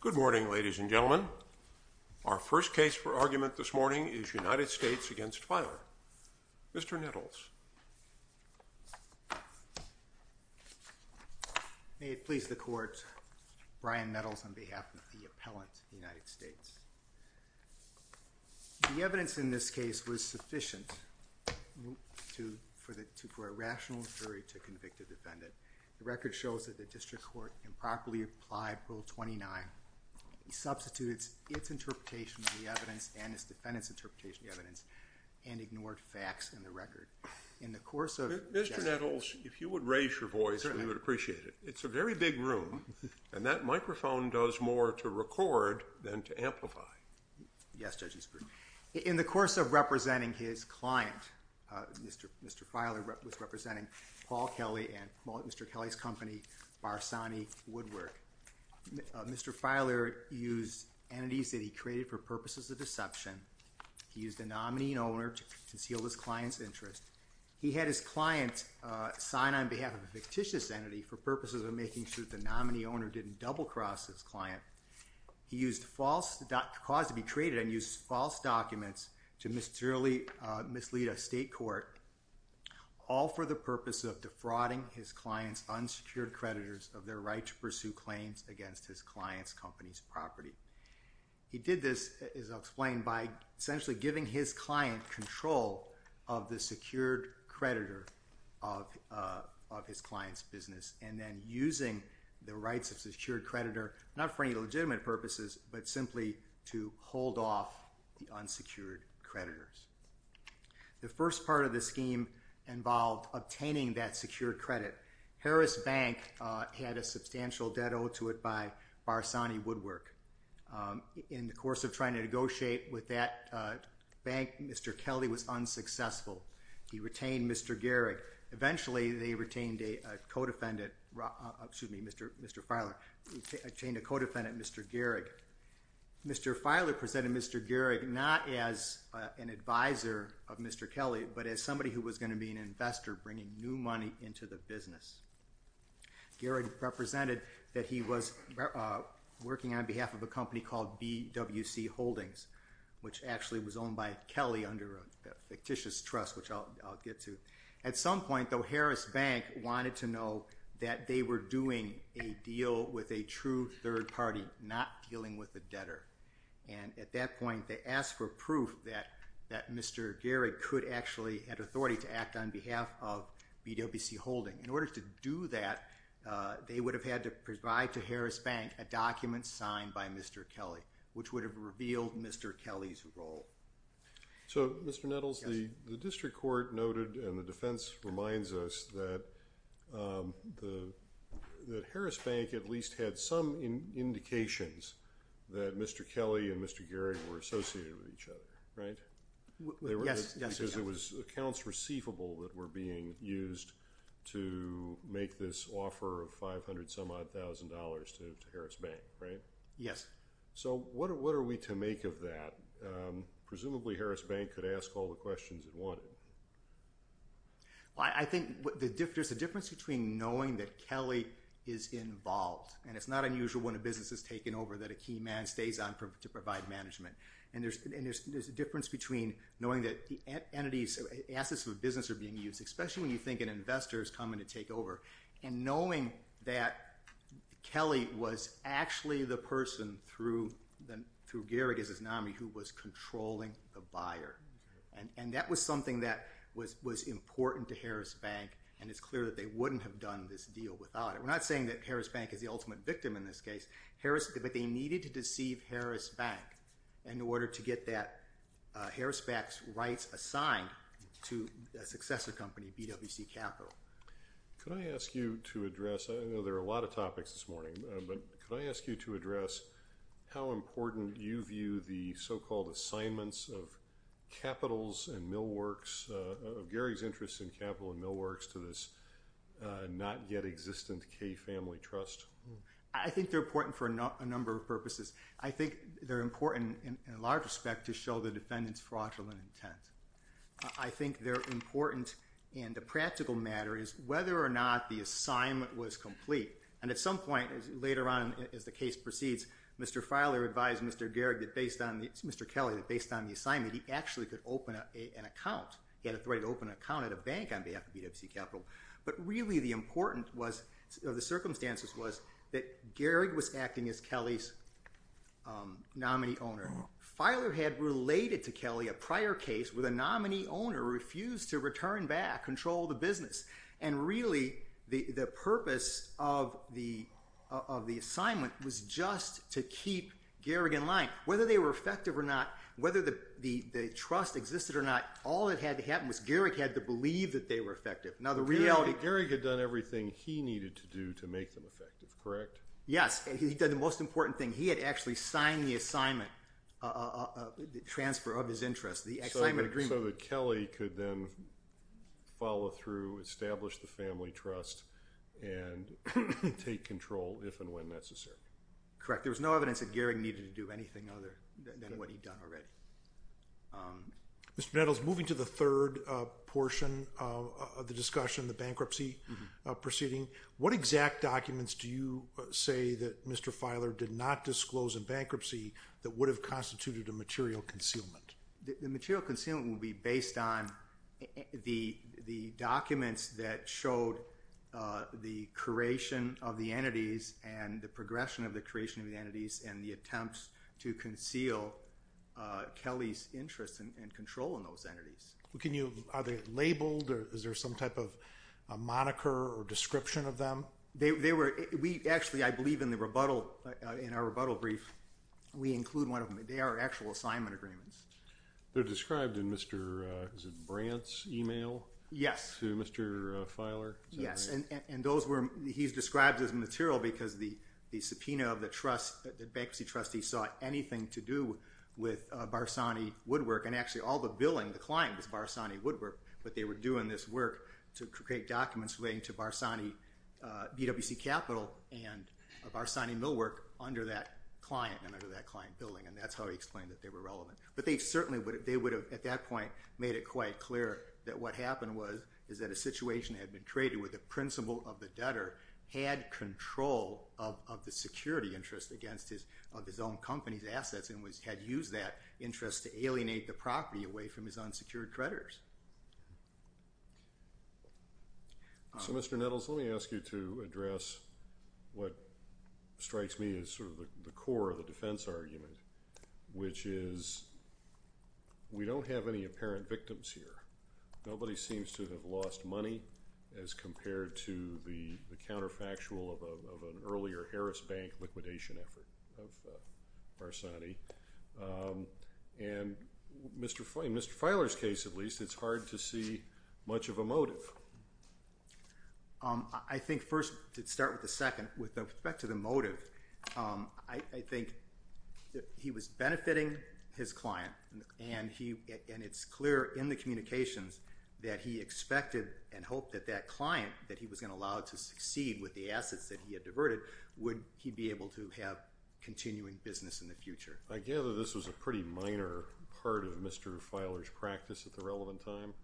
Good morning ladies and gentlemen. Our first case for argument this morning is United States v. Filer. Mr. Nettles. May it please the court, Brian Nettles on behalf of the appellant of the United States. The evidence in this case was sufficient for a rational jury to convict a defendant. The record shows that the district court improperly applied Rule 29. It substituted its interpretation of the evidence and its defendant's interpretation of the evidence and ignored facts in the record. Mr. Nettles, if you would raise your voice we would appreciate it. It's a very big room and that microphone does more to record than to amplify. Yes, Judge Ginsburg. In the course of representing his client, Mr. Filer was representing Paul Kelly and Mr. Kelly's company Barsani Woodwork. Mr. Filer used entities that he created for purposes of deception. He used a nominee and owner to conceal his client's interest. He had his client sign on behalf of a fictitious entity for purposes of making sure that the nominee owner didn't double-cross his client. He used false documents to mislead a state court all for the purpose of defrauding his client's unsecured creditors of their right to pursue claims against his client's company's property. He did this, as I'll explain, by essentially giving his client control of the secured creditor of his client's business and then using the rights of the secured creditor not for any legitimate purposes but simply to hold off the unsecured creditors. The first part of the scheme involved obtaining that secured credit. Harris Bank had a substantial debt owed to it by Barsani Woodwork. In the course of trying to negotiate with that bank, Mr. Kelly was unsuccessful. He retained Mr. Gehrig. Eventually, they retained a co-defendant, excuse me, Mr. Filer. They retained a co-defendant, Mr. Gehrig. Mr. Filer presented Mr. Gehrig not as an advisor of Mr. Kelly but as somebody who was going to be an investor bringing new money into the business. Gehrig represented that he was working on behalf of a company called BWC Holdings, which actually was owned by Kelly under a fictitious trust, which I'll get to. At some point, though, Harris Bank wanted to know that they were doing a deal with a true third party, not dealing with a debtor. At that point, they asked for proof that Mr. Gehrig could actually have authority to act on behalf of BWC Holdings. In order to do that, they would have had to provide to Harris Bank a document signed by Mr. Kelly, which would have revealed Mr. Kelly's role. So, Mr. Nettles, the district court noted and the defense reminds us that Harris Bank at least had some indications that Mr. Kelly and Mr. Gehrig were associated with each other, right? Yes. Because it was accounts receivable that were being used to make this offer of $500-some-odd-thousand to Harris Bank, right? Yes. So, what are we to make of that? Presumably, Harris Bank could ask all the questions it wanted. Well, I think there's a difference between knowing that Kelly is involved, and it's not unusual when a business is taken over that a key man stays on to provide management. And there's a difference between knowing that entities, assets of a business are being used, especially when you think an investor is coming to take over, and knowing that Kelly was actually the person through Gehrig as his nominee who was controlling the buyer. And that was something that was important to Harris Bank, and it's clear that they wouldn't have done this deal without it. We're not saying that Harris Bank is the ultimate victim in this case. But they needed to deceive Harris Bank in order to get Harris Bank's rights assigned to a successor company, BWC Capital. Could I ask you to address—I know there are a lot of topics this morning—but could I ask you to address how important you view the so-called assignments of capitals and millworks, of Gehrig's interest in capital and millworks, to this not-yet-existent Kay Family Trust? I think they're important for a number of purposes. I think they're important in a large respect to show the defendant's fraudulent intent. I think they're important—and the practical matter is whether or not the assignment was complete. And at some point later on as the case proceeds, Mr. Filer advised Mr. Gehrig that based on—Mr. Kelly—that based on the assignment, he actually could open an account. He had authority to open an account at a bank on behalf of BWC Capital. But really the important was—or the circumstances was that Gehrig was acting as Kelly's nominee owner. Filer had related to Kelly a prior case where the nominee owner refused to return back, control the business. And really the purpose of the assignment was just to keep Gehrig in line. Whether they were effective or not, whether the trust existed or not, all that had to happen was Gehrig had to believe that they were effective. Now the reality— Gehrig had done everything he needed to do to make them effective, correct? Yes. He did the most important thing. He had actually signed the assignment, the transfer of his interest, the assignment agreement. So that Kelly could then follow through, establish the family trust, and take control if and when necessary. Correct. There was no evidence that Gehrig needed to do anything other than what he'd done already. Mr. Nettles, moving to the third portion of the discussion, the bankruptcy proceeding, what exact documents do you say that Mr. Filer did not disclose in bankruptcy that would have constituted a material concealment? The material concealment would be based on the documents that showed the creation of the entities and the progression of the creation of the entities and the attempts to conceal Kelly's interest and control in those entities. Are they labeled or is there some type of moniker or description of them? Actually, I believe in our rebuttal brief, we include one of them. They are actual assignment agreements. They're described in Mr. Brant's email to Mr. Filer? Yes. He's described as material because the subpoena of the trust, the bankruptcy trustee, saw anything to do with Barsani Woodwork, and actually all the billing, the client was Barsani Woodwork, but they were doing this work to create documents relating to Barsani BWC Capital and Barsani Millwork under that client and under that client billing, and that's how he explained that they were relevant. But they certainly would have, at that point, made it quite clear that what happened was is that a situation had been created where the principal of the debtor had control of the security interest against his own company's assets and had used that interest to alienate the property away from his unsecured creditors. So, Mr. Nettles, let me ask you to address what strikes me as sort of the core of the defense argument, which is we don't have any apparent victims here. Nobody seems to have lost money as compared to the counterfactual of an earlier Harris Bank liquidation effort of Barsani. And in Mr. Filer's case, at least, it's hard to see much of a motive. I think first, to start with the second, with respect to the motive, I think he was benefiting his client, and it's clear in the communications that he expected and hoped that that client, that he was going to allow it to succeed with the assets that he had diverted, would he be able to have continuing business in the future. I gather this was a pretty minor part of Mr. Filer's practice at the relevant time.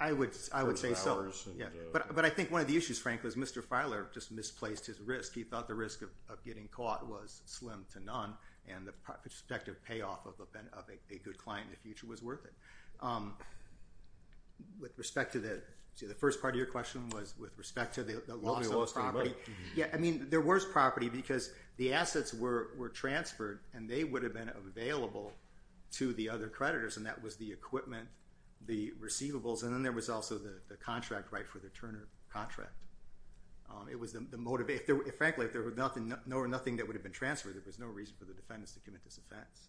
I would say so. But I think one of the issues, frankly, is Mr. Filer just misplaced his risk. He thought the risk of getting caught was slim to none, and the prospective payoff of a good client in the future was worth it. With respect to the first part of your question was with respect to the loss of property. Yeah, I mean, there was property because the assets were transferred, and they would have been available to the other creditors, and that was the equipment, the receivables, and then there was also the contract right for the Turner contract. Frankly, if there were nothing that would have been transferred, there was no reason for the defendants to commit this offense.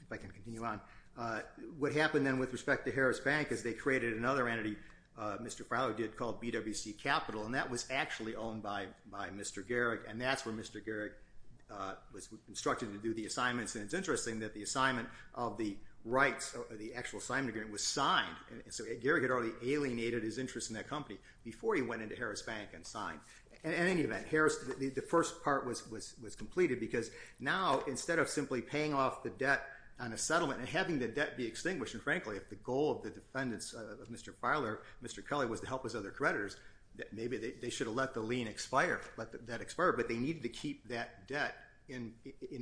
If I can continue on, what happened then with respect to Harris Bank is they created another entity, Mr. Filer did, called BWC Capital, and that was actually owned by Mr. Garrick, and that's where Mr. Garrick was instructed to do the assignments, and it's interesting that the assignment of the rights of the actual assignment agreement was signed. So Garrick had already alienated his interest in that company before he went into Harris Bank and signed. In any event, the first part was completed because now, instead of simply paying off the debt on a settlement and having the debt be extinguished, and frankly, if the goal of the defendants of Mr. Filer, Mr. Kelly, was to help his other creditors, maybe they should have let the lien expire, let the debt expire, but they needed to keep that debt in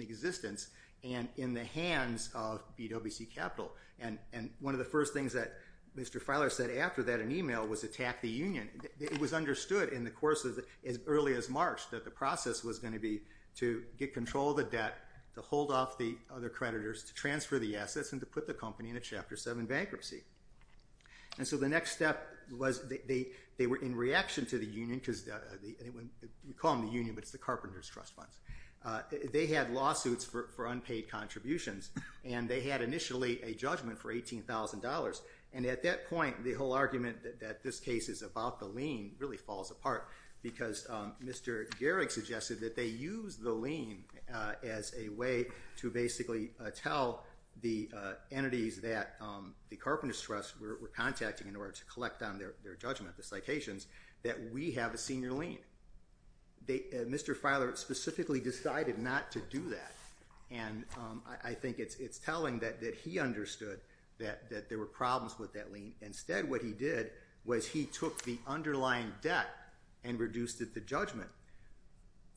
existence and in the hands of BWC Capital. And one of the first things that Mr. Filer said after that in email was attack the union. It was understood in the course of as early as March that the process was going to be to get control of the debt, to hold off the other creditors, to transfer the assets, and to put the company in a Chapter 7 bankruptcy. And so the next step was they were in reaction to the union, because we call them the union, but it's the Carpenter's Trust Funds. They had lawsuits for unpaid contributions, and they had initially a judgment for $18,000. And at that point, the whole argument that this case is about the lien really falls apart, because Mr. Gehrig suggested that they use the lien as a way to basically tell the entities that the Carpenter's Trust were contacting in order to collect on their judgment, the citations, that we have a senior lien. Mr. Filer specifically decided not to do that. And I think it's telling that he understood that there were problems with that lien. Instead, what he did was he took the underlying debt and reduced it to judgment.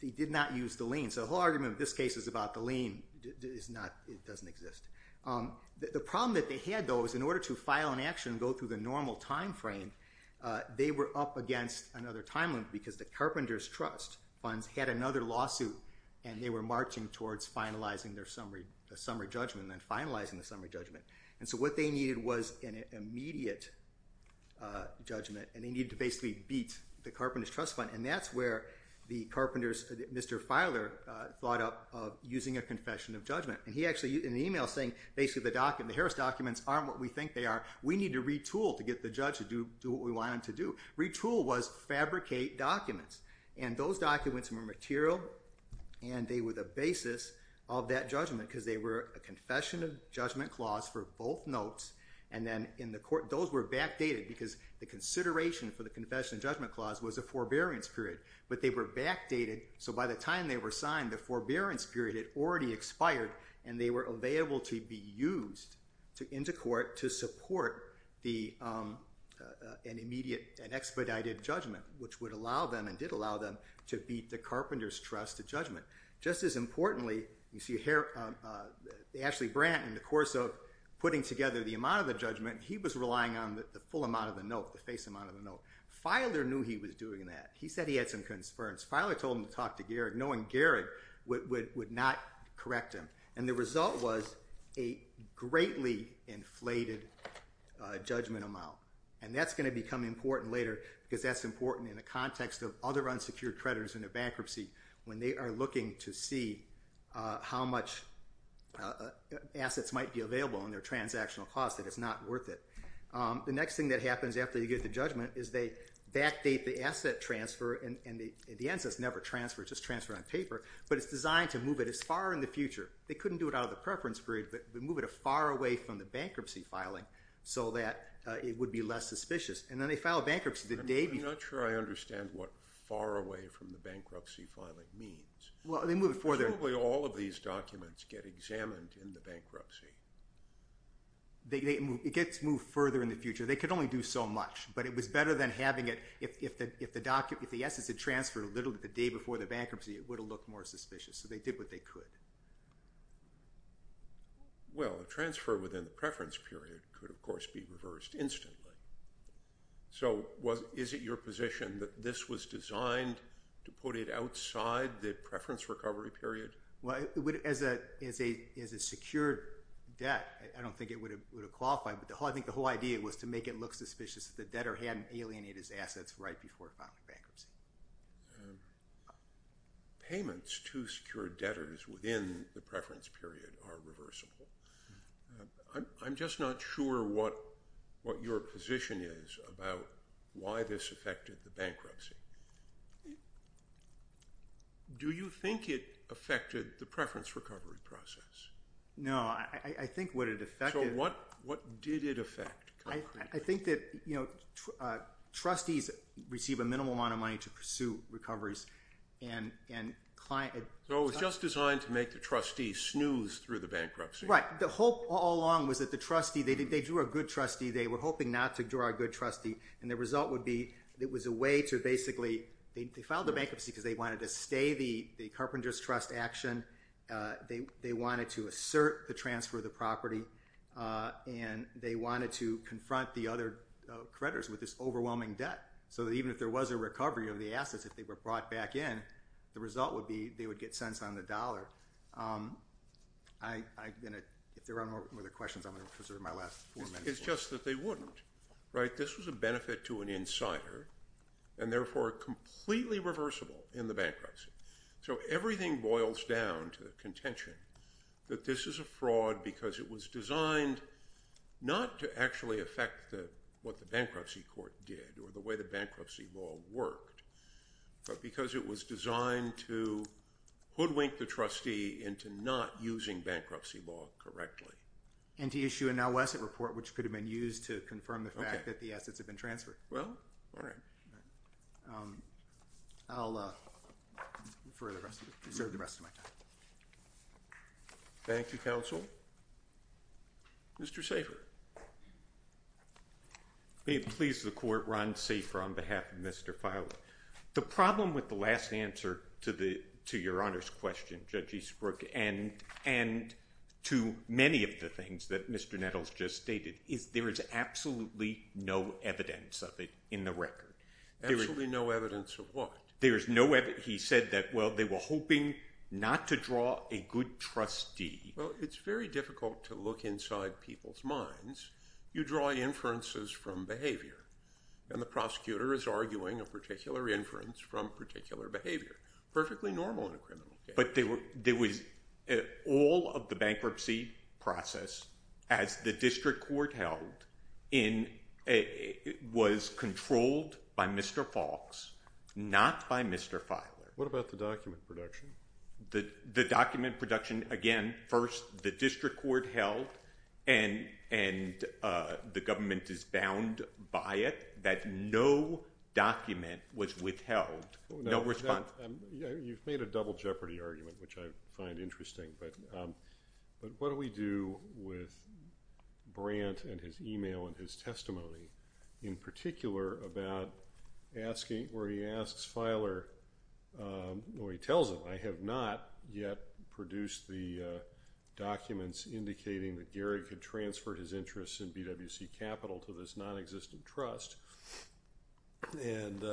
He did not use the lien. So the whole argument of this case is about the lien. It doesn't exist. The problem that they had, though, was in order to file an action and go through the normal timeframe, they were up against another timeline, because the Carpenter's Trust Funds had another lawsuit, and they were marching towards finalizing their summary judgment and then finalizing the summary judgment. And so what they needed was an immediate judgment, and they needed to basically beat the Carpenter's Trust Fund. And that's where the Carpenters, Mr. Filer thought up using a confession of judgment. And he actually, in the email, is saying, basically, the Harris documents aren't what we think they are. We need to retool to get the judge to do what we want him to do. Retool was fabricate documents. And those documents were material, and they were the basis of that judgment, because they were a confession of judgment clause for both notes. And then in the court, those were backdated, because the consideration for the confession of judgment clause was a forbearance period. But they were backdated, so by the time they were signed, the forbearance period had already expired, and they were available to be used into court to support an immediate and expedited judgment, which would allow them and did allow them to beat the Carpenter's Trust to judgment. Just as importantly, you see Ashley Brandt, in the course of putting together the amount of the judgment, he was relying on the full amount of the note, the face amount of the note. Filer knew he was doing that. He said he had some concerns. Filer told him to talk to Gehrig, knowing Gehrig would not correct him. And the result was a greatly inflated judgment amount. And that's going to become important later, because that's important in the context of other unsecured creditors in a bankruptcy, when they are looking to see how much assets might be available in their transactional cost, that it's not worth it. The next thing that happens after you get the judgment is they backdate the asset transfer, and at the end it's never transfer, it's just transfer on paper, but it's designed to move it as far in the future. They couldn't do it out of the preference period, but move it far away from the bankruptcy filing, so that it would be less suspicious. And then they filed bankruptcy the day before. I'm not sure I understand what far away from the bankruptcy filing means. Probably all of these documents get examined in the bankruptcy. It gets moved further in the future. They could only do so much, but it was better than having it, if the assets had transferred literally the day before the bankruptcy, it would have looked more suspicious. So they did what they could. Well, a transfer within the preference period could, of course, be reversed instantly. So is it your position that this was designed to put it outside the preference recovery period? As a secured debt, I don't think it would have qualified, but I think the whole idea was to make it look suspicious that the debtor hadn't alienated his assets right before filing bankruptcy. Payments to secured debtors within the preference period are reversible. I'm just not sure what your position is about why this affected the bankruptcy. Do you think it affected the preference recovery process? No, I think what it affected— So what did it affect concretely? I think that trustees receive a minimal amount of money to pursue recoveries and client— So it was just designed to make the trustees snooze through the bankruptcy. Right. The hope all along was that the trustee—they drew a good trustee. They were hoping not to draw a good trustee, and the result would be it was a way to basically—they filed the bankruptcy because they wanted to stay the carpenters' trust action. They wanted to assert the transfer of the property, and they wanted to confront the other creditors with this overwhelming debt so that even if there was a recovery of the assets, if they were brought back in, the result would be they would get cents on the dollar. If there are no other questions, I'm going to preserve my last four minutes. It's just that they wouldn't. This was a benefit to an insider and, therefore, completely reversible in the bankruptcy. So everything boils down to contention that this is a fraud because it was designed not to actually affect what the bankruptcy court did or the way the bankruptcy law worked, but because it was designed to hoodwink the trustee into not using bankruptcy law correctly. And to issue a now-asset report, which could have been used to confirm the fact that the assets have been transferred. Well, all right. I'll reserve the rest of my time. Thank you, counsel. Mr. Safer. May it please the Court, Ron Safer on behalf of Mr. Filer. The problem with the last answer to your Honor's question, Judge Eastbrook, and to many of the things that Mr. Nettles just stated, is there is absolutely no evidence of it in the record. Absolutely no evidence of what? There is no evidence. He said that, well, they were hoping not to draw a good trustee. You draw inferences from behavior, and the prosecutor is arguing a particular inference from particular behavior. Perfectly normal in a criminal case. But all of the bankruptcy process, as the district court held, was controlled by Mr. Falks, not by Mr. Filer. What about the document production? The document production, again, first the district court held, and the government is bound by it, that no document was withheld. No response. You've made a double jeopardy argument, which I find interesting. But what do we do with Brandt and his email and his testimony? In particular, about asking, or he asks Filer, or he tells him, I have not yet produced the documents indicating that Garrick had transferred his interests in BWC Capital to this nonexistent trust. And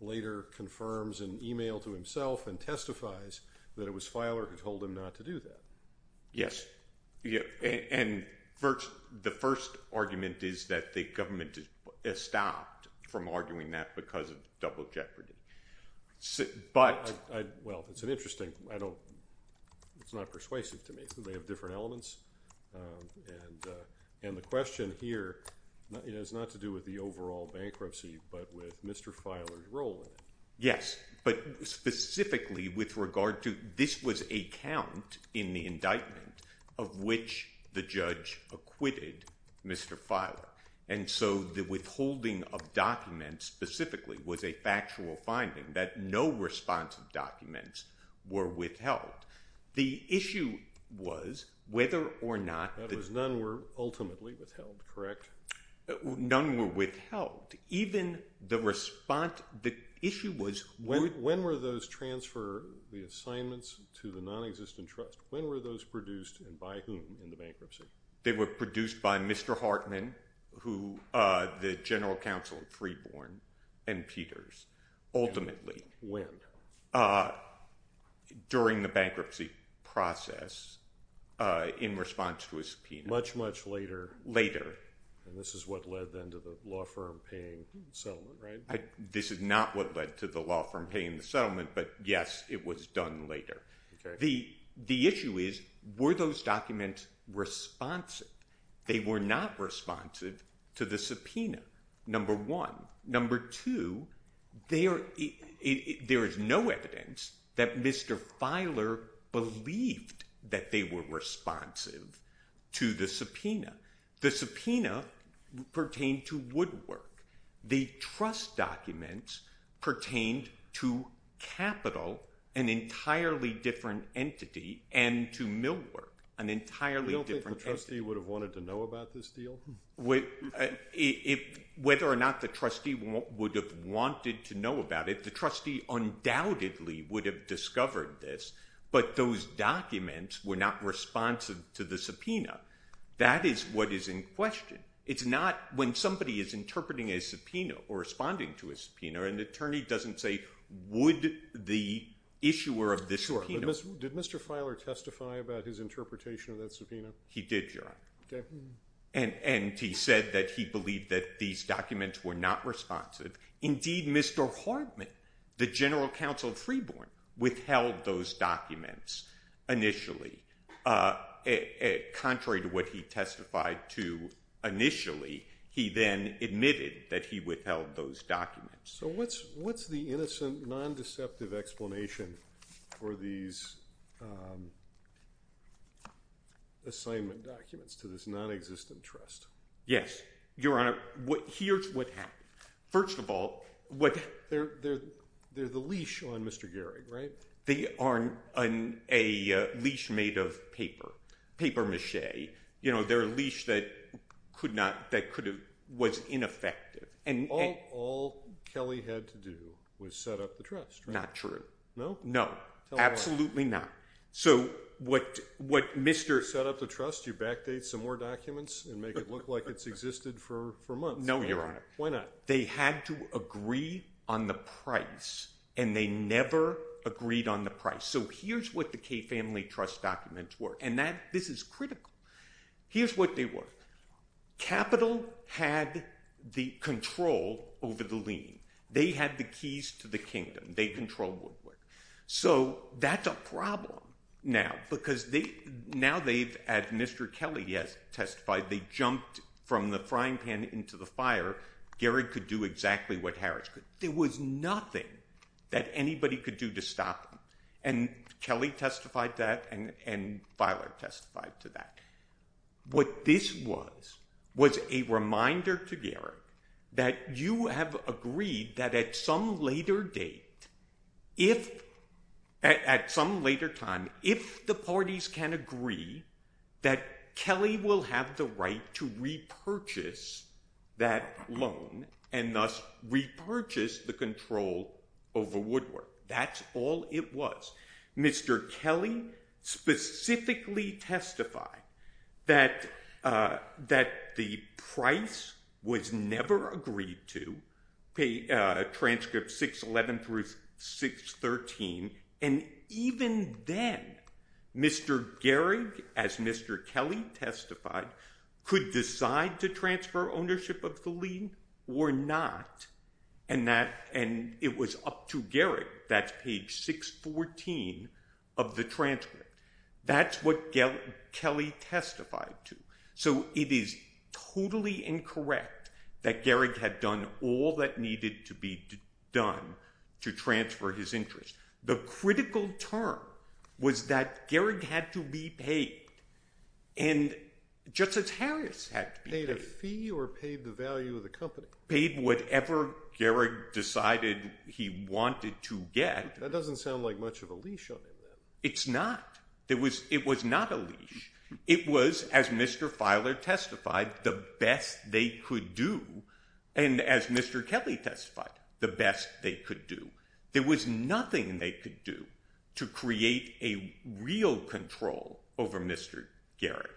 later confirms in email to himself and testifies that it was Filer who told him not to do that. Yes. And the first argument is that the government stopped from arguing that because of double jeopardy. Well, it's interesting. It's not persuasive to me. They have different elements. And the question here has not to do with the overall bankruptcy, but with Mr. Filer's role in it. Yes, but specifically with regard to this was a count in the indictment of which the judge acquitted Mr. Filer. And so the withholding of documents specifically was a factual finding that no responsive documents were withheld. The issue was whether or not- That was none were ultimately withheld, correct? None were withheld. Even the response, the issue was- When were those transfer, the assignments to the nonexistent trust, when were those produced and by whom in the bankruptcy? They were produced by Mr. Hartman, the general counsel at Freeborn and Peters, ultimately. When? During the bankruptcy process in response to a subpoena. Much, much later. Later. And this is what led then to the law firm paying the settlement, right? This is not what led to the law firm paying the settlement, but yes, it was done later. The issue is were those documents responsive? They were not responsive to the subpoena, number one. Number two, there is no evidence that Mr. Filer believed that they were responsive to the subpoena. The subpoena pertained to woodwork. The trust documents pertained to capital, an entirely different entity, and to millwork, an entirely different entity. You don't think the trustee would have wanted to know about this deal? Whether or not the trustee would have wanted to know about it, the trustee undoubtedly would have discovered this, but those documents were not responsive to the subpoena. That is what is in question. It's not when somebody is interpreting a subpoena or responding to a subpoena, an attorney doesn't say would the issuer of the subpoena. Did Mr. Filer testify about his interpretation of that subpoena? He did, Your Honor. And he said that he believed that these documents were not responsive. Indeed, Mr. Hartman, the general counsel of Freeborn, withheld those documents initially. Contrary to what he testified to initially, he then admitted that he withheld those documents. So what's the innocent, non-deceptive explanation for these assignment documents to this nonexistent trust? Yes, Your Honor. Here's what happened. First of all, they're the leash on Mr. Gehrig, right? They are a leash made of paper, papier-mâché. They're a leash that was ineffective. All Kelly had to do was set up the trust, right? Not true. No? No, absolutely not. So what Mr. Set up the trust, you backdate some more documents and make it look like it's existed for months? No, Your Honor. Why not? They had to agree on the price, and they never agreed on the price. So here's what the Kaye Family Trust documents were, and this is critical. Here's what they were. Capital had the control over the lien. They had the keys to the kingdom. They controlled Woodward. So that's a problem now because now they've, as Mr. Kelly has testified, they jumped from the frying pan into the fire. Gehrig could do exactly what Harris could. There was nothing that anybody could do to stop him, and Kelly testified that and Feiler testified to that. What this was was a reminder to Gehrig that you have agreed that at some later date, if at some later time, if the parties can agree that Kelly will have the right to repurchase that loan and thus repurchase the control over Woodward. That's all it was. Mr. Kelly specifically testified that the price was never agreed to, transcript 611 through 613, and even then, Mr. Gehrig, as Mr. Kelly testified, could decide to transfer ownership of the lien or not, and it was up to Gehrig. That's page 614 of the transcript. That's what Kelly testified to. So it is totally incorrect that Gehrig had done all that needed to be done to transfer his interest. The critical term was that Gehrig had to be paid, and just as Harris had to be paid. Paid a fee or paid the value of the company? Paid whatever Gehrig decided he wanted to get. That doesn't sound like much of a leash on him then. It's not. It was not a leash. It was, as Mr. Feiler testified, the best they could do, and as Mr. Kelly testified, the best they could do. There was nothing they could do to create a real control over Mr. Gehrig.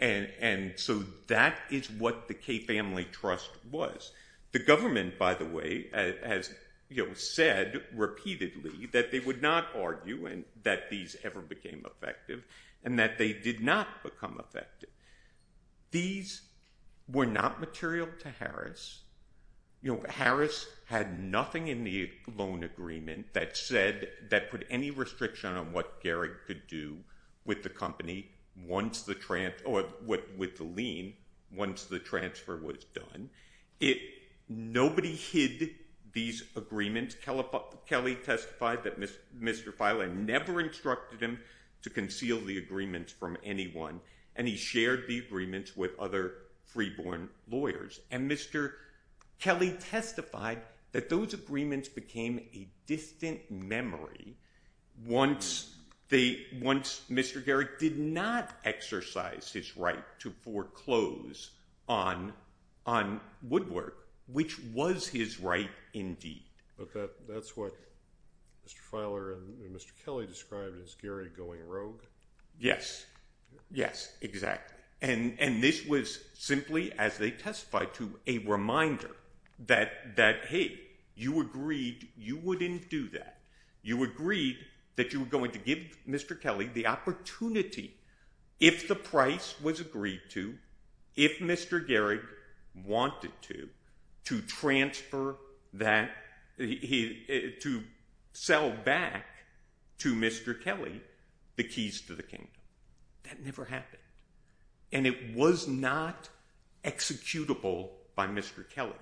And so that is what the Kay Family Trust was. The government, by the way, has said repeatedly that they would not argue that these ever became effective and that they did not become effective. These were not material to Harris. You know, Harris had nothing in the loan agreement that said that put any restriction on what Gehrig could do with the company once the – or with the lien once the transfer was done. Nobody hid these agreements. Kelly testified that Mr. Feiler never instructed him to conceal the agreements from anyone, and he shared the agreements with other freeborn lawyers. And Mr. Kelly testified that those agreements became a distant memory once they – once Mr. Gehrig did not exercise his right to foreclose on Woodward, which was his right indeed. But that's what Mr. Feiler and Mr. Kelly described as Gehrig going rogue. Yes. Yes, exactly. And this was simply, as they testified to, a reminder that, hey, you agreed you wouldn't do that. You agreed that you were going to give Mr. Kelly the opportunity if the price was agreed to, if Mr. Gehrig wanted to, to transfer that – to sell back to Mr. Kelly the keys to the kingdom. That never happened. And it was not executable by Mr. Kelly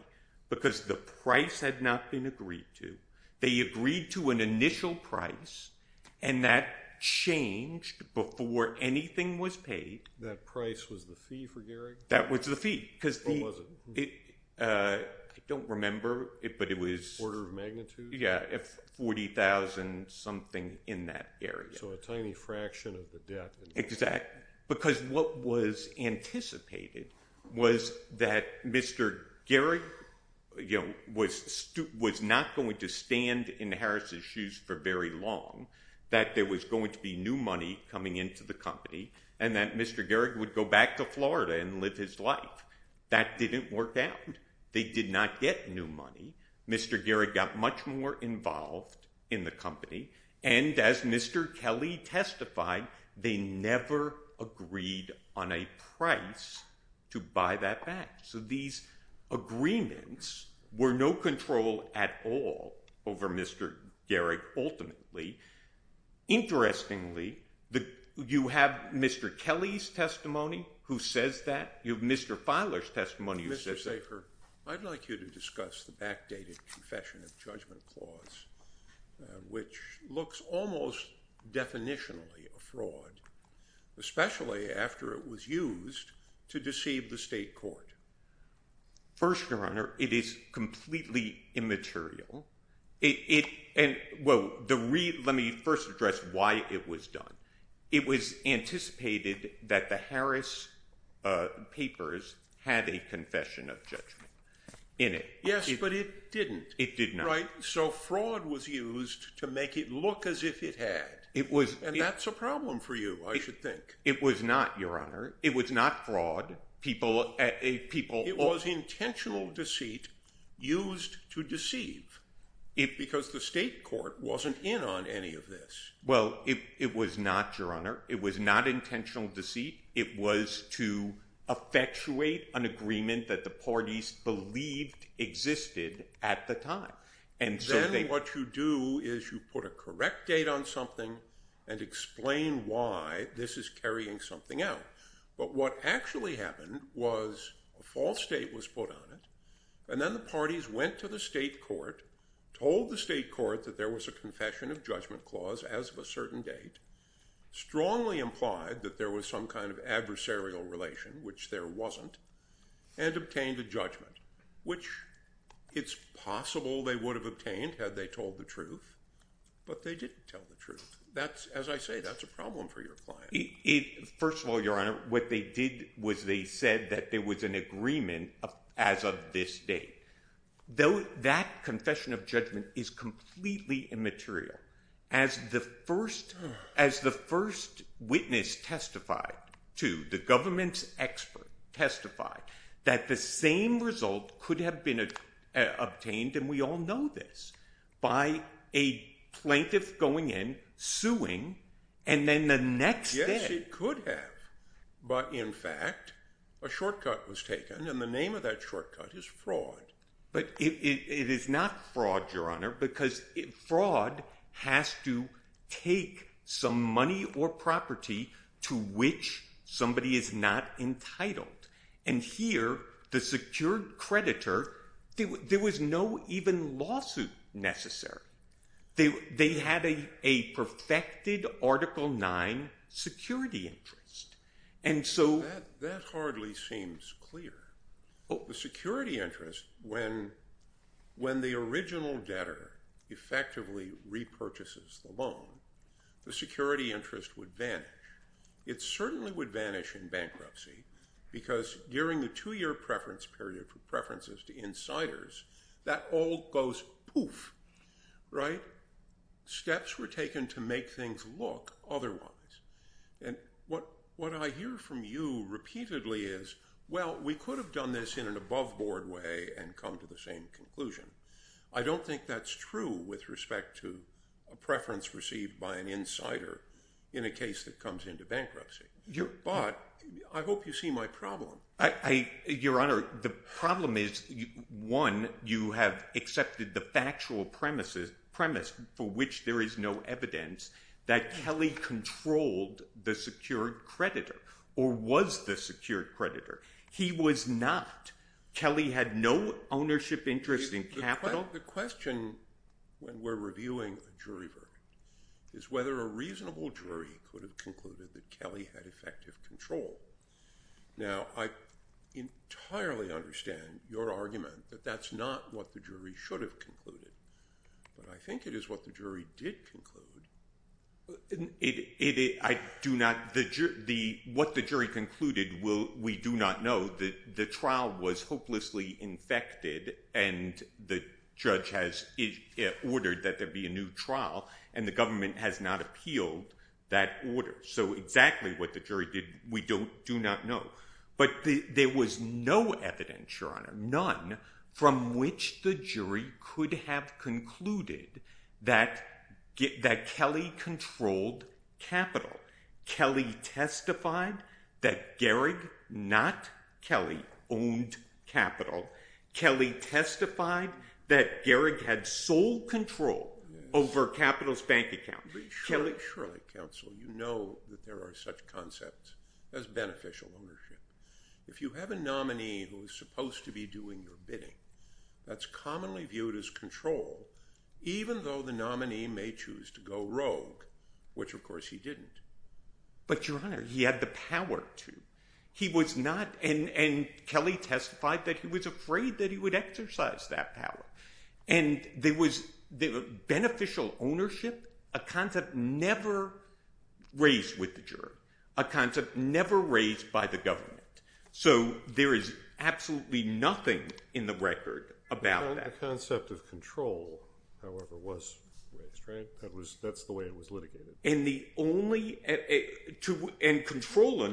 because the price had not been agreed to. They agreed to an initial price, and that changed before anything was paid. That price was the fee for Gehrig? That was the fee because the – Or was it? I don't remember, but it was – Order of magnitude? Yeah, $40,000 something in that area. So a tiny fraction of the debt. Exactly, because what was anticipated was that Mr. Gehrig was not going to stand in Harris's shoes for very long, that there was going to be new money coming into the company, and that Mr. Gehrig would go back to Florida and live his life. That didn't work out. They did not get new money. Mr. Gehrig got much more involved in the company. And as Mr. Kelly testified, they never agreed on a price to buy that back. So these agreements were no control at all over Mr. Gehrig ultimately. Interestingly, you have Mr. Kelly's testimony who says that. You have Mr. Filer's testimony who says that. I'd like you to discuss the backdated confession of judgment clause, which looks almost definitionally a fraud, especially after it was used to deceive the state court. First, Your Honor, it is completely immaterial. Let me first address why it was done. It was anticipated that the Harris papers had a confession of judgment in it. Yes, but it didn't. It did not. Right, so fraud was used to make it look as if it had. And that's a problem for you, I should think. It was not, Your Honor. It was not fraud. It was intentional deceit used to deceive because the state court wasn't in on any of this. Well, it was not, Your Honor. It was not intentional deceit. It was to effectuate an agreement that the parties believed existed at the time. Then what you do is you put a correct date on something and explain why this is carrying something out. But what actually happened was a false date was put on it, and then the parties went to the state court, told the state court that there was a confession of judgment clause as of a certain date, strongly implied that there was some kind of adversarial relation, which there wasn't, and obtained a judgment, which it's possible they would have obtained had they told the truth, but they didn't tell the truth. As I say, that's a problem for your client. First of all, Your Honor, what they did was they said that there was an agreement as of this date. That confession of judgment is completely immaterial. As the first witness testified to, the government's expert testified, that the same result could have been obtained, and we all know this, by a plaintiff going in, suing, and then the next day. Yes, it could have. But, in fact, a shortcut was taken, and the name of that shortcut is fraud. But it is not fraud, Your Honor, because fraud has to take some money or property to which somebody is not entitled. And here, the secured creditor, there was no even lawsuit necessary. They had a perfected Article IX security interest. That hardly seems clear. The security interest, when the original debtor effectively repurchases the loan, the security interest would vanish. It certainly would vanish in bankruptcy, because during the two-year preference period for preferences to insiders, that all goes poof, right? Steps were taken to make things look otherwise. And what I hear from you repeatedly is, well, we could have done this in an above-board way and come to the same conclusion. I don't think that's true with respect to a preference received by an insider in a case that comes into bankruptcy. But I hope you see my problem. Your Honor, the problem is, one, you have accepted the factual premise for which there is no evidence that Kelly controlled the secured creditor or was the secured creditor. He was not. Kelly had no ownership interest in capital. The question, when we're reviewing a jury verdict, is whether a reasonable jury could have concluded that Kelly had effective control. Now, I entirely understand your argument that that's not what the jury should have concluded. But I think it is what the jury did conclude. What the jury concluded, we do not know. The trial was hopelessly infected, and the judge has ordered that there be a new trial, and the government has not appealed that order. So exactly what the jury did, we do not know. But there was no evidence, Your Honor, none, from which the jury could have concluded that Kelly controlled capital. Kelly testified that Gehrig, not Kelly, owned capital. Kelly testified that Gehrig had sole control over capital's bank account. Surely, counsel, you know that there are such concepts as beneficial ownership. If you have a nominee who is supposed to be doing your bidding, that's commonly viewed as control, even though the nominee may choose to go rogue, which, of course, he didn't. But, Your Honor, he had the power to. He was not, and Kelly testified that he was afraid that he would exercise that power. And there was beneficial ownership, a concept never raised with the jury, a concept never raised by the government. So there is absolutely nothing in the record about that. The concept of control, however, was raised, right? That's the way it was litigated. And control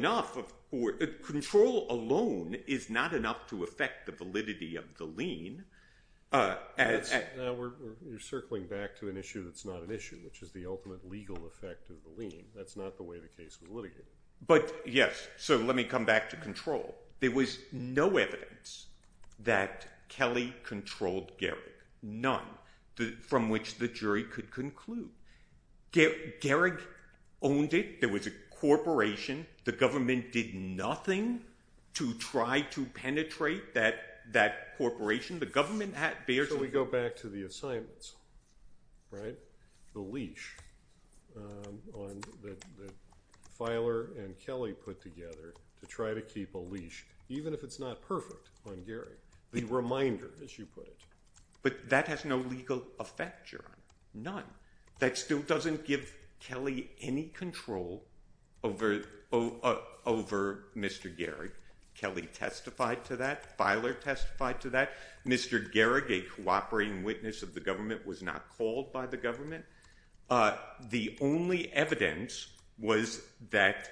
alone is not enough to affect the validity of the lien. Now you're circling back to an issue that's not an issue, which is the ultimate legal effect of the lien. That's not the way the case was litigated. But, yes, so let me come back to control. There was no evidence that Kelly controlled Gehrig, none, from which the jury could conclude. Gehrig owned it. There was a corporation. The government did nothing to try to penetrate that corporation. The government had barely— So we go back to the assignments, right? The leash that Feiler and Kelly put together to try to keep a leash, even if it's not perfect on Gehrig, the reminder, as you put it. But that has no legal effect, Your Honor, none. That still doesn't give Kelly any control over Mr. Gehrig. Kelly testified to that. Feiler testified to that. Mr. Gehrig, a cooperating witness of the government, was not called by the government. The only evidence was that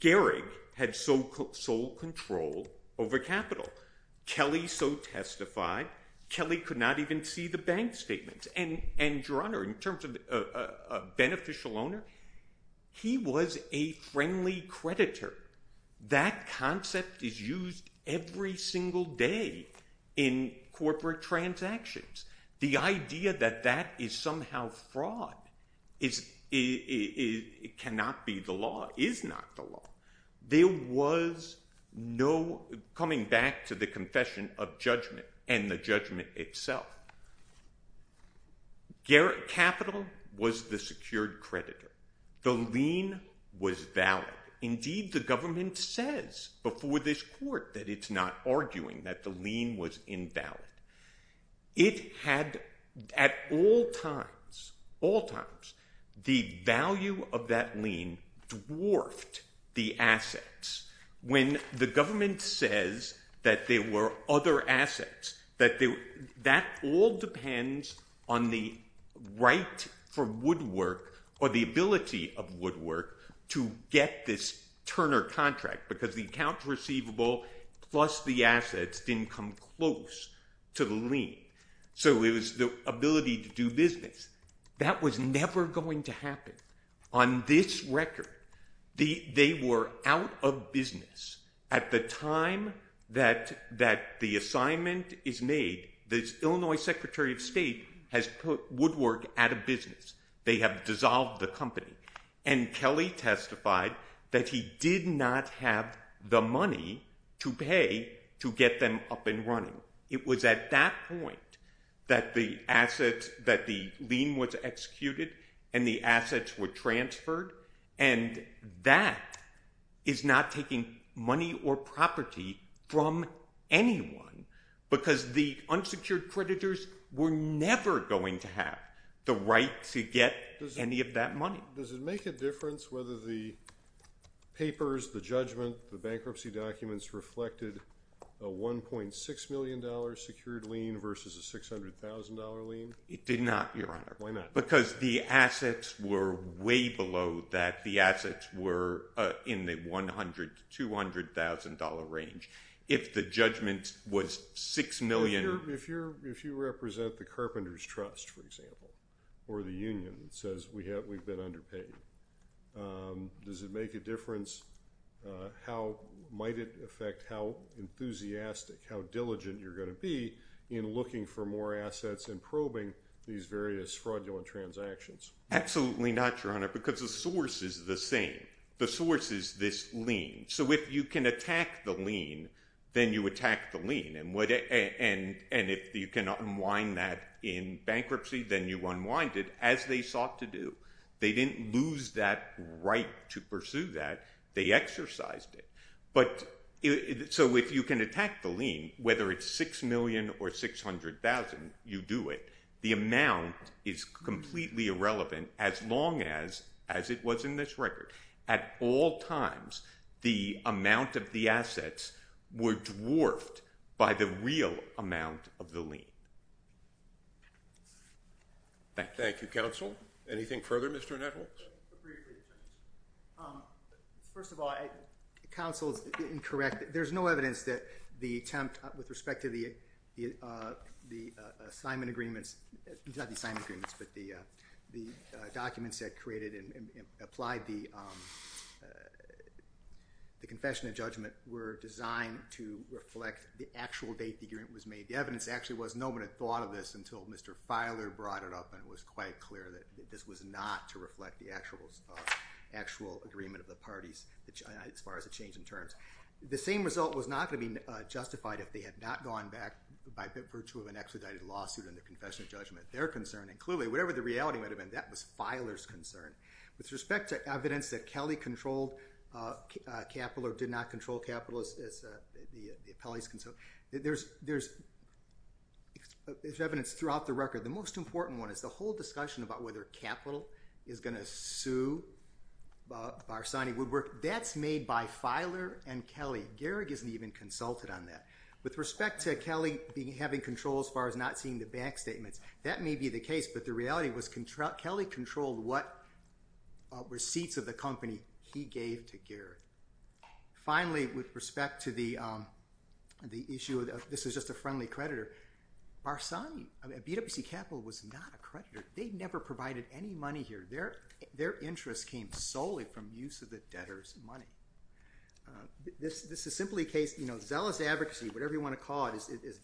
Gehrig had sole control over capital. Kelly so testified, Kelly could not even see the bank statements. And, Your Honor, in terms of a beneficial owner, he was a friendly creditor. That concept is used every single day in corporate transactions. The idea that that is somehow fraud cannot be the law, is not the law. There was no—coming back to the confession of judgment and the judgment itself. Capital was the secured creditor. The lien was valid. Indeed, the government says before this court that it's not arguing that the lien was invalid. It had, at all times, all times, the value of that lien dwarfed the assets. When the government says that there were other assets, that all depends on the right for woodwork or the ability of woodwork to get this Turner contract, because the accounts receivable plus the assets didn't come close to the lien. So it was the ability to do business. That was never going to happen. On this record, they were out of business at the time that the assignment is made. The Illinois Secretary of State has put woodwork out of business. They have dissolved the company. And Kelly testified that he did not have the money to pay to get them up and running. It was at that point that the assets—that the lien was executed and the assets were transferred, and that is not taking money or property from anyone, because the unsecured creditors were never going to have the right to get any of that money. Does it make a difference whether the papers, the judgment, the bankruptcy documents, reflected a $1.6 million secured lien versus a $600,000 lien? It did not, Your Honor. Why not? Because the assets were way below that. The assets were in the $100,000 to $200,000 range. If the judgment was $6 million— If you represent the Carpenters' Trust, for example, or the union that says we've been underpaid, does it make a difference how—might it affect how enthusiastic, how diligent you're going to be in looking for more assets and probing these various fraudulent transactions? Absolutely not, Your Honor, because the source is the same. The source is this lien. So if you can attack the lien, then you attack the lien, and if you can unwind that in bankruptcy, then you unwind it, as they sought to do. They didn't lose that right to pursue that. They exercised it. So if you can attack the lien, whether it's $6 million or $600,000, you do it. The amount is completely irrelevant as long as it was in this record. At all times, the amount of the assets were dwarfed by the real amount of the lien. Thank you. Thank you, counsel. Anything further, Mr. Netholz? First of all, counsel is incorrect. There's no evidence that the attempt with respect to the assignment agreements— the confession and judgment were designed to reflect the actual date the agreement was made. The evidence actually was no one had thought of this until Mr. Filer brought it up and it was quite clear that this was not to reflect the actual agreement of the parties, as far as the change in terms. The same result was not going to be justified if they had not gone back by virtue of an expedited lawsuit and the confession and judgment. Their concern, and clearly, whatever the reality might have been, that was Filer's concern. With respect to evidence that Kelly controlled capital or did not control capital, as the appellee's concerned, there's evidence throughout the record. The most important one is the whole discussion about whether capital is going to sue Barsani Woodwork. That's made by Filer and Kelly. Gehrig isn't even consulted on that. With respect to Kelly having control as far as not seeing the bank statements, that may be the case, but the reality was Kelly controlled what receipts of the company he gave to Gehrig. Finally, with respect to the issue of this is just a friendly creditor, Barsani, BWC Capital was not a creditor. They never provided any money here. Their interest came solely from use of the debtors' money. This is simply a case of zealous advocacy, whatever you want to call it.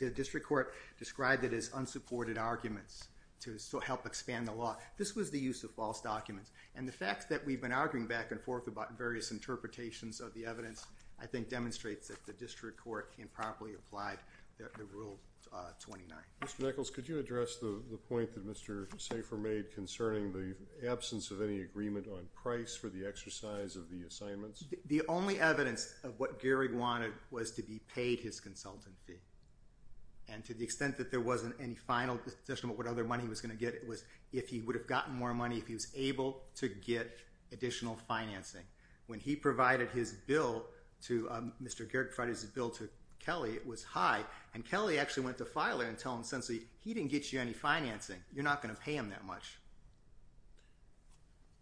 The district court described it as unsupported arguments to help expand the law. This was the use of false documents, and the fact that we've been arguing back and forth about various interpretations of the evidence, I think demonstrates that the district court improperly applied the Rule 29. Mr. Nichols, could you address the point that Mr. Safer made concerning the absence of any agreement on price for the exercise of the assignments? The only evidence of what Gehrig wanted was to be paid his consultant fee, and to the extent that there wasn't any final discussion about what other money he was going to get, it was if he would have gotten more money if he was able to get additional financing. When he provided his bill to—Mr. Gehrig provided his bill to Kelly, it was high, and Kelly actually went to Filer and told him, essentially, he didn't get you any financing. You're not going to pay him that much.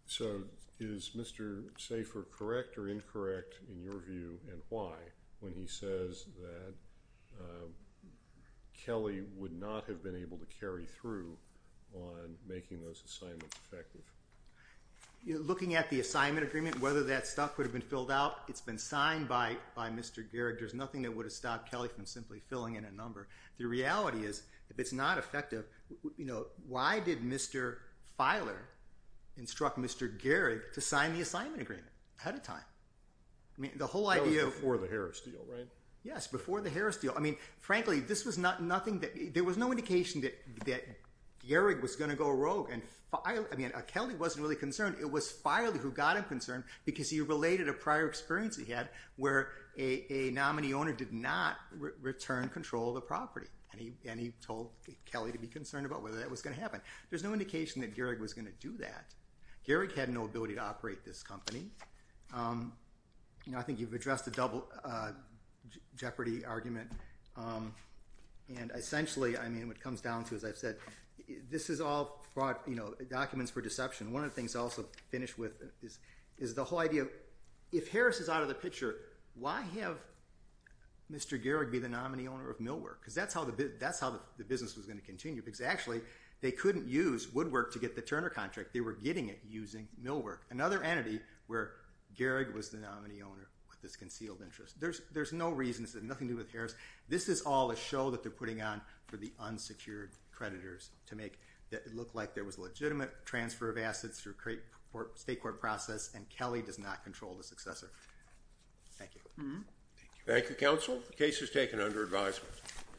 So is Mr. Safer correct or incorrect in your view, and why, when he says that Kelly would not have been able to carry through on making those assignments effective? Looking at the assignment agreement, whether that stuff would have been filled out, it's been signed by Mr. Gehrig. There's nothing that would have stopped Kelly from simply filling in a number. The reality is, if it's not effective, why did Mr. Filer instruct Mr. Gehrig to sign the assignment agreement ahead of time? That was before the Harris deal, right? Yes, before the Harris deal. Frankly, there was no indication that Gehrig was going to go rogue. Kelly wasn't really concerned. It was Filer who got him concerned because he related a prior experience he had where a nominee owner did not return control of the property, and he told Kelly to be concerned about whether that was going to happen. There's no indication that Gehrig was going to do that. Gehrig had no ability to operate this company. I think you've addressed the jeopardy argument, and essentially what it comes down to, as I've said, this is all documents for deception. One of the things I'll also finish with is the whole idea, if Harris is out of the picture, why have Mr. Gehrig be the nominee owner of Millwork? Because that's how the business was going to continue, because actually they couldn't use Woodwork to get the Turner contract. They were getting it using Millwork, another entity where Gehrig was the nominee owner with this concealed interest. There's no reason. This has nothing to do with Harris. This is all a show that they're putting on for the unsecured creditors to make it look like there was legitimate transfer of assets through state court process, and Kelly does not control the successor. Thank you. Thank you, counsel. The case is taken under advisement.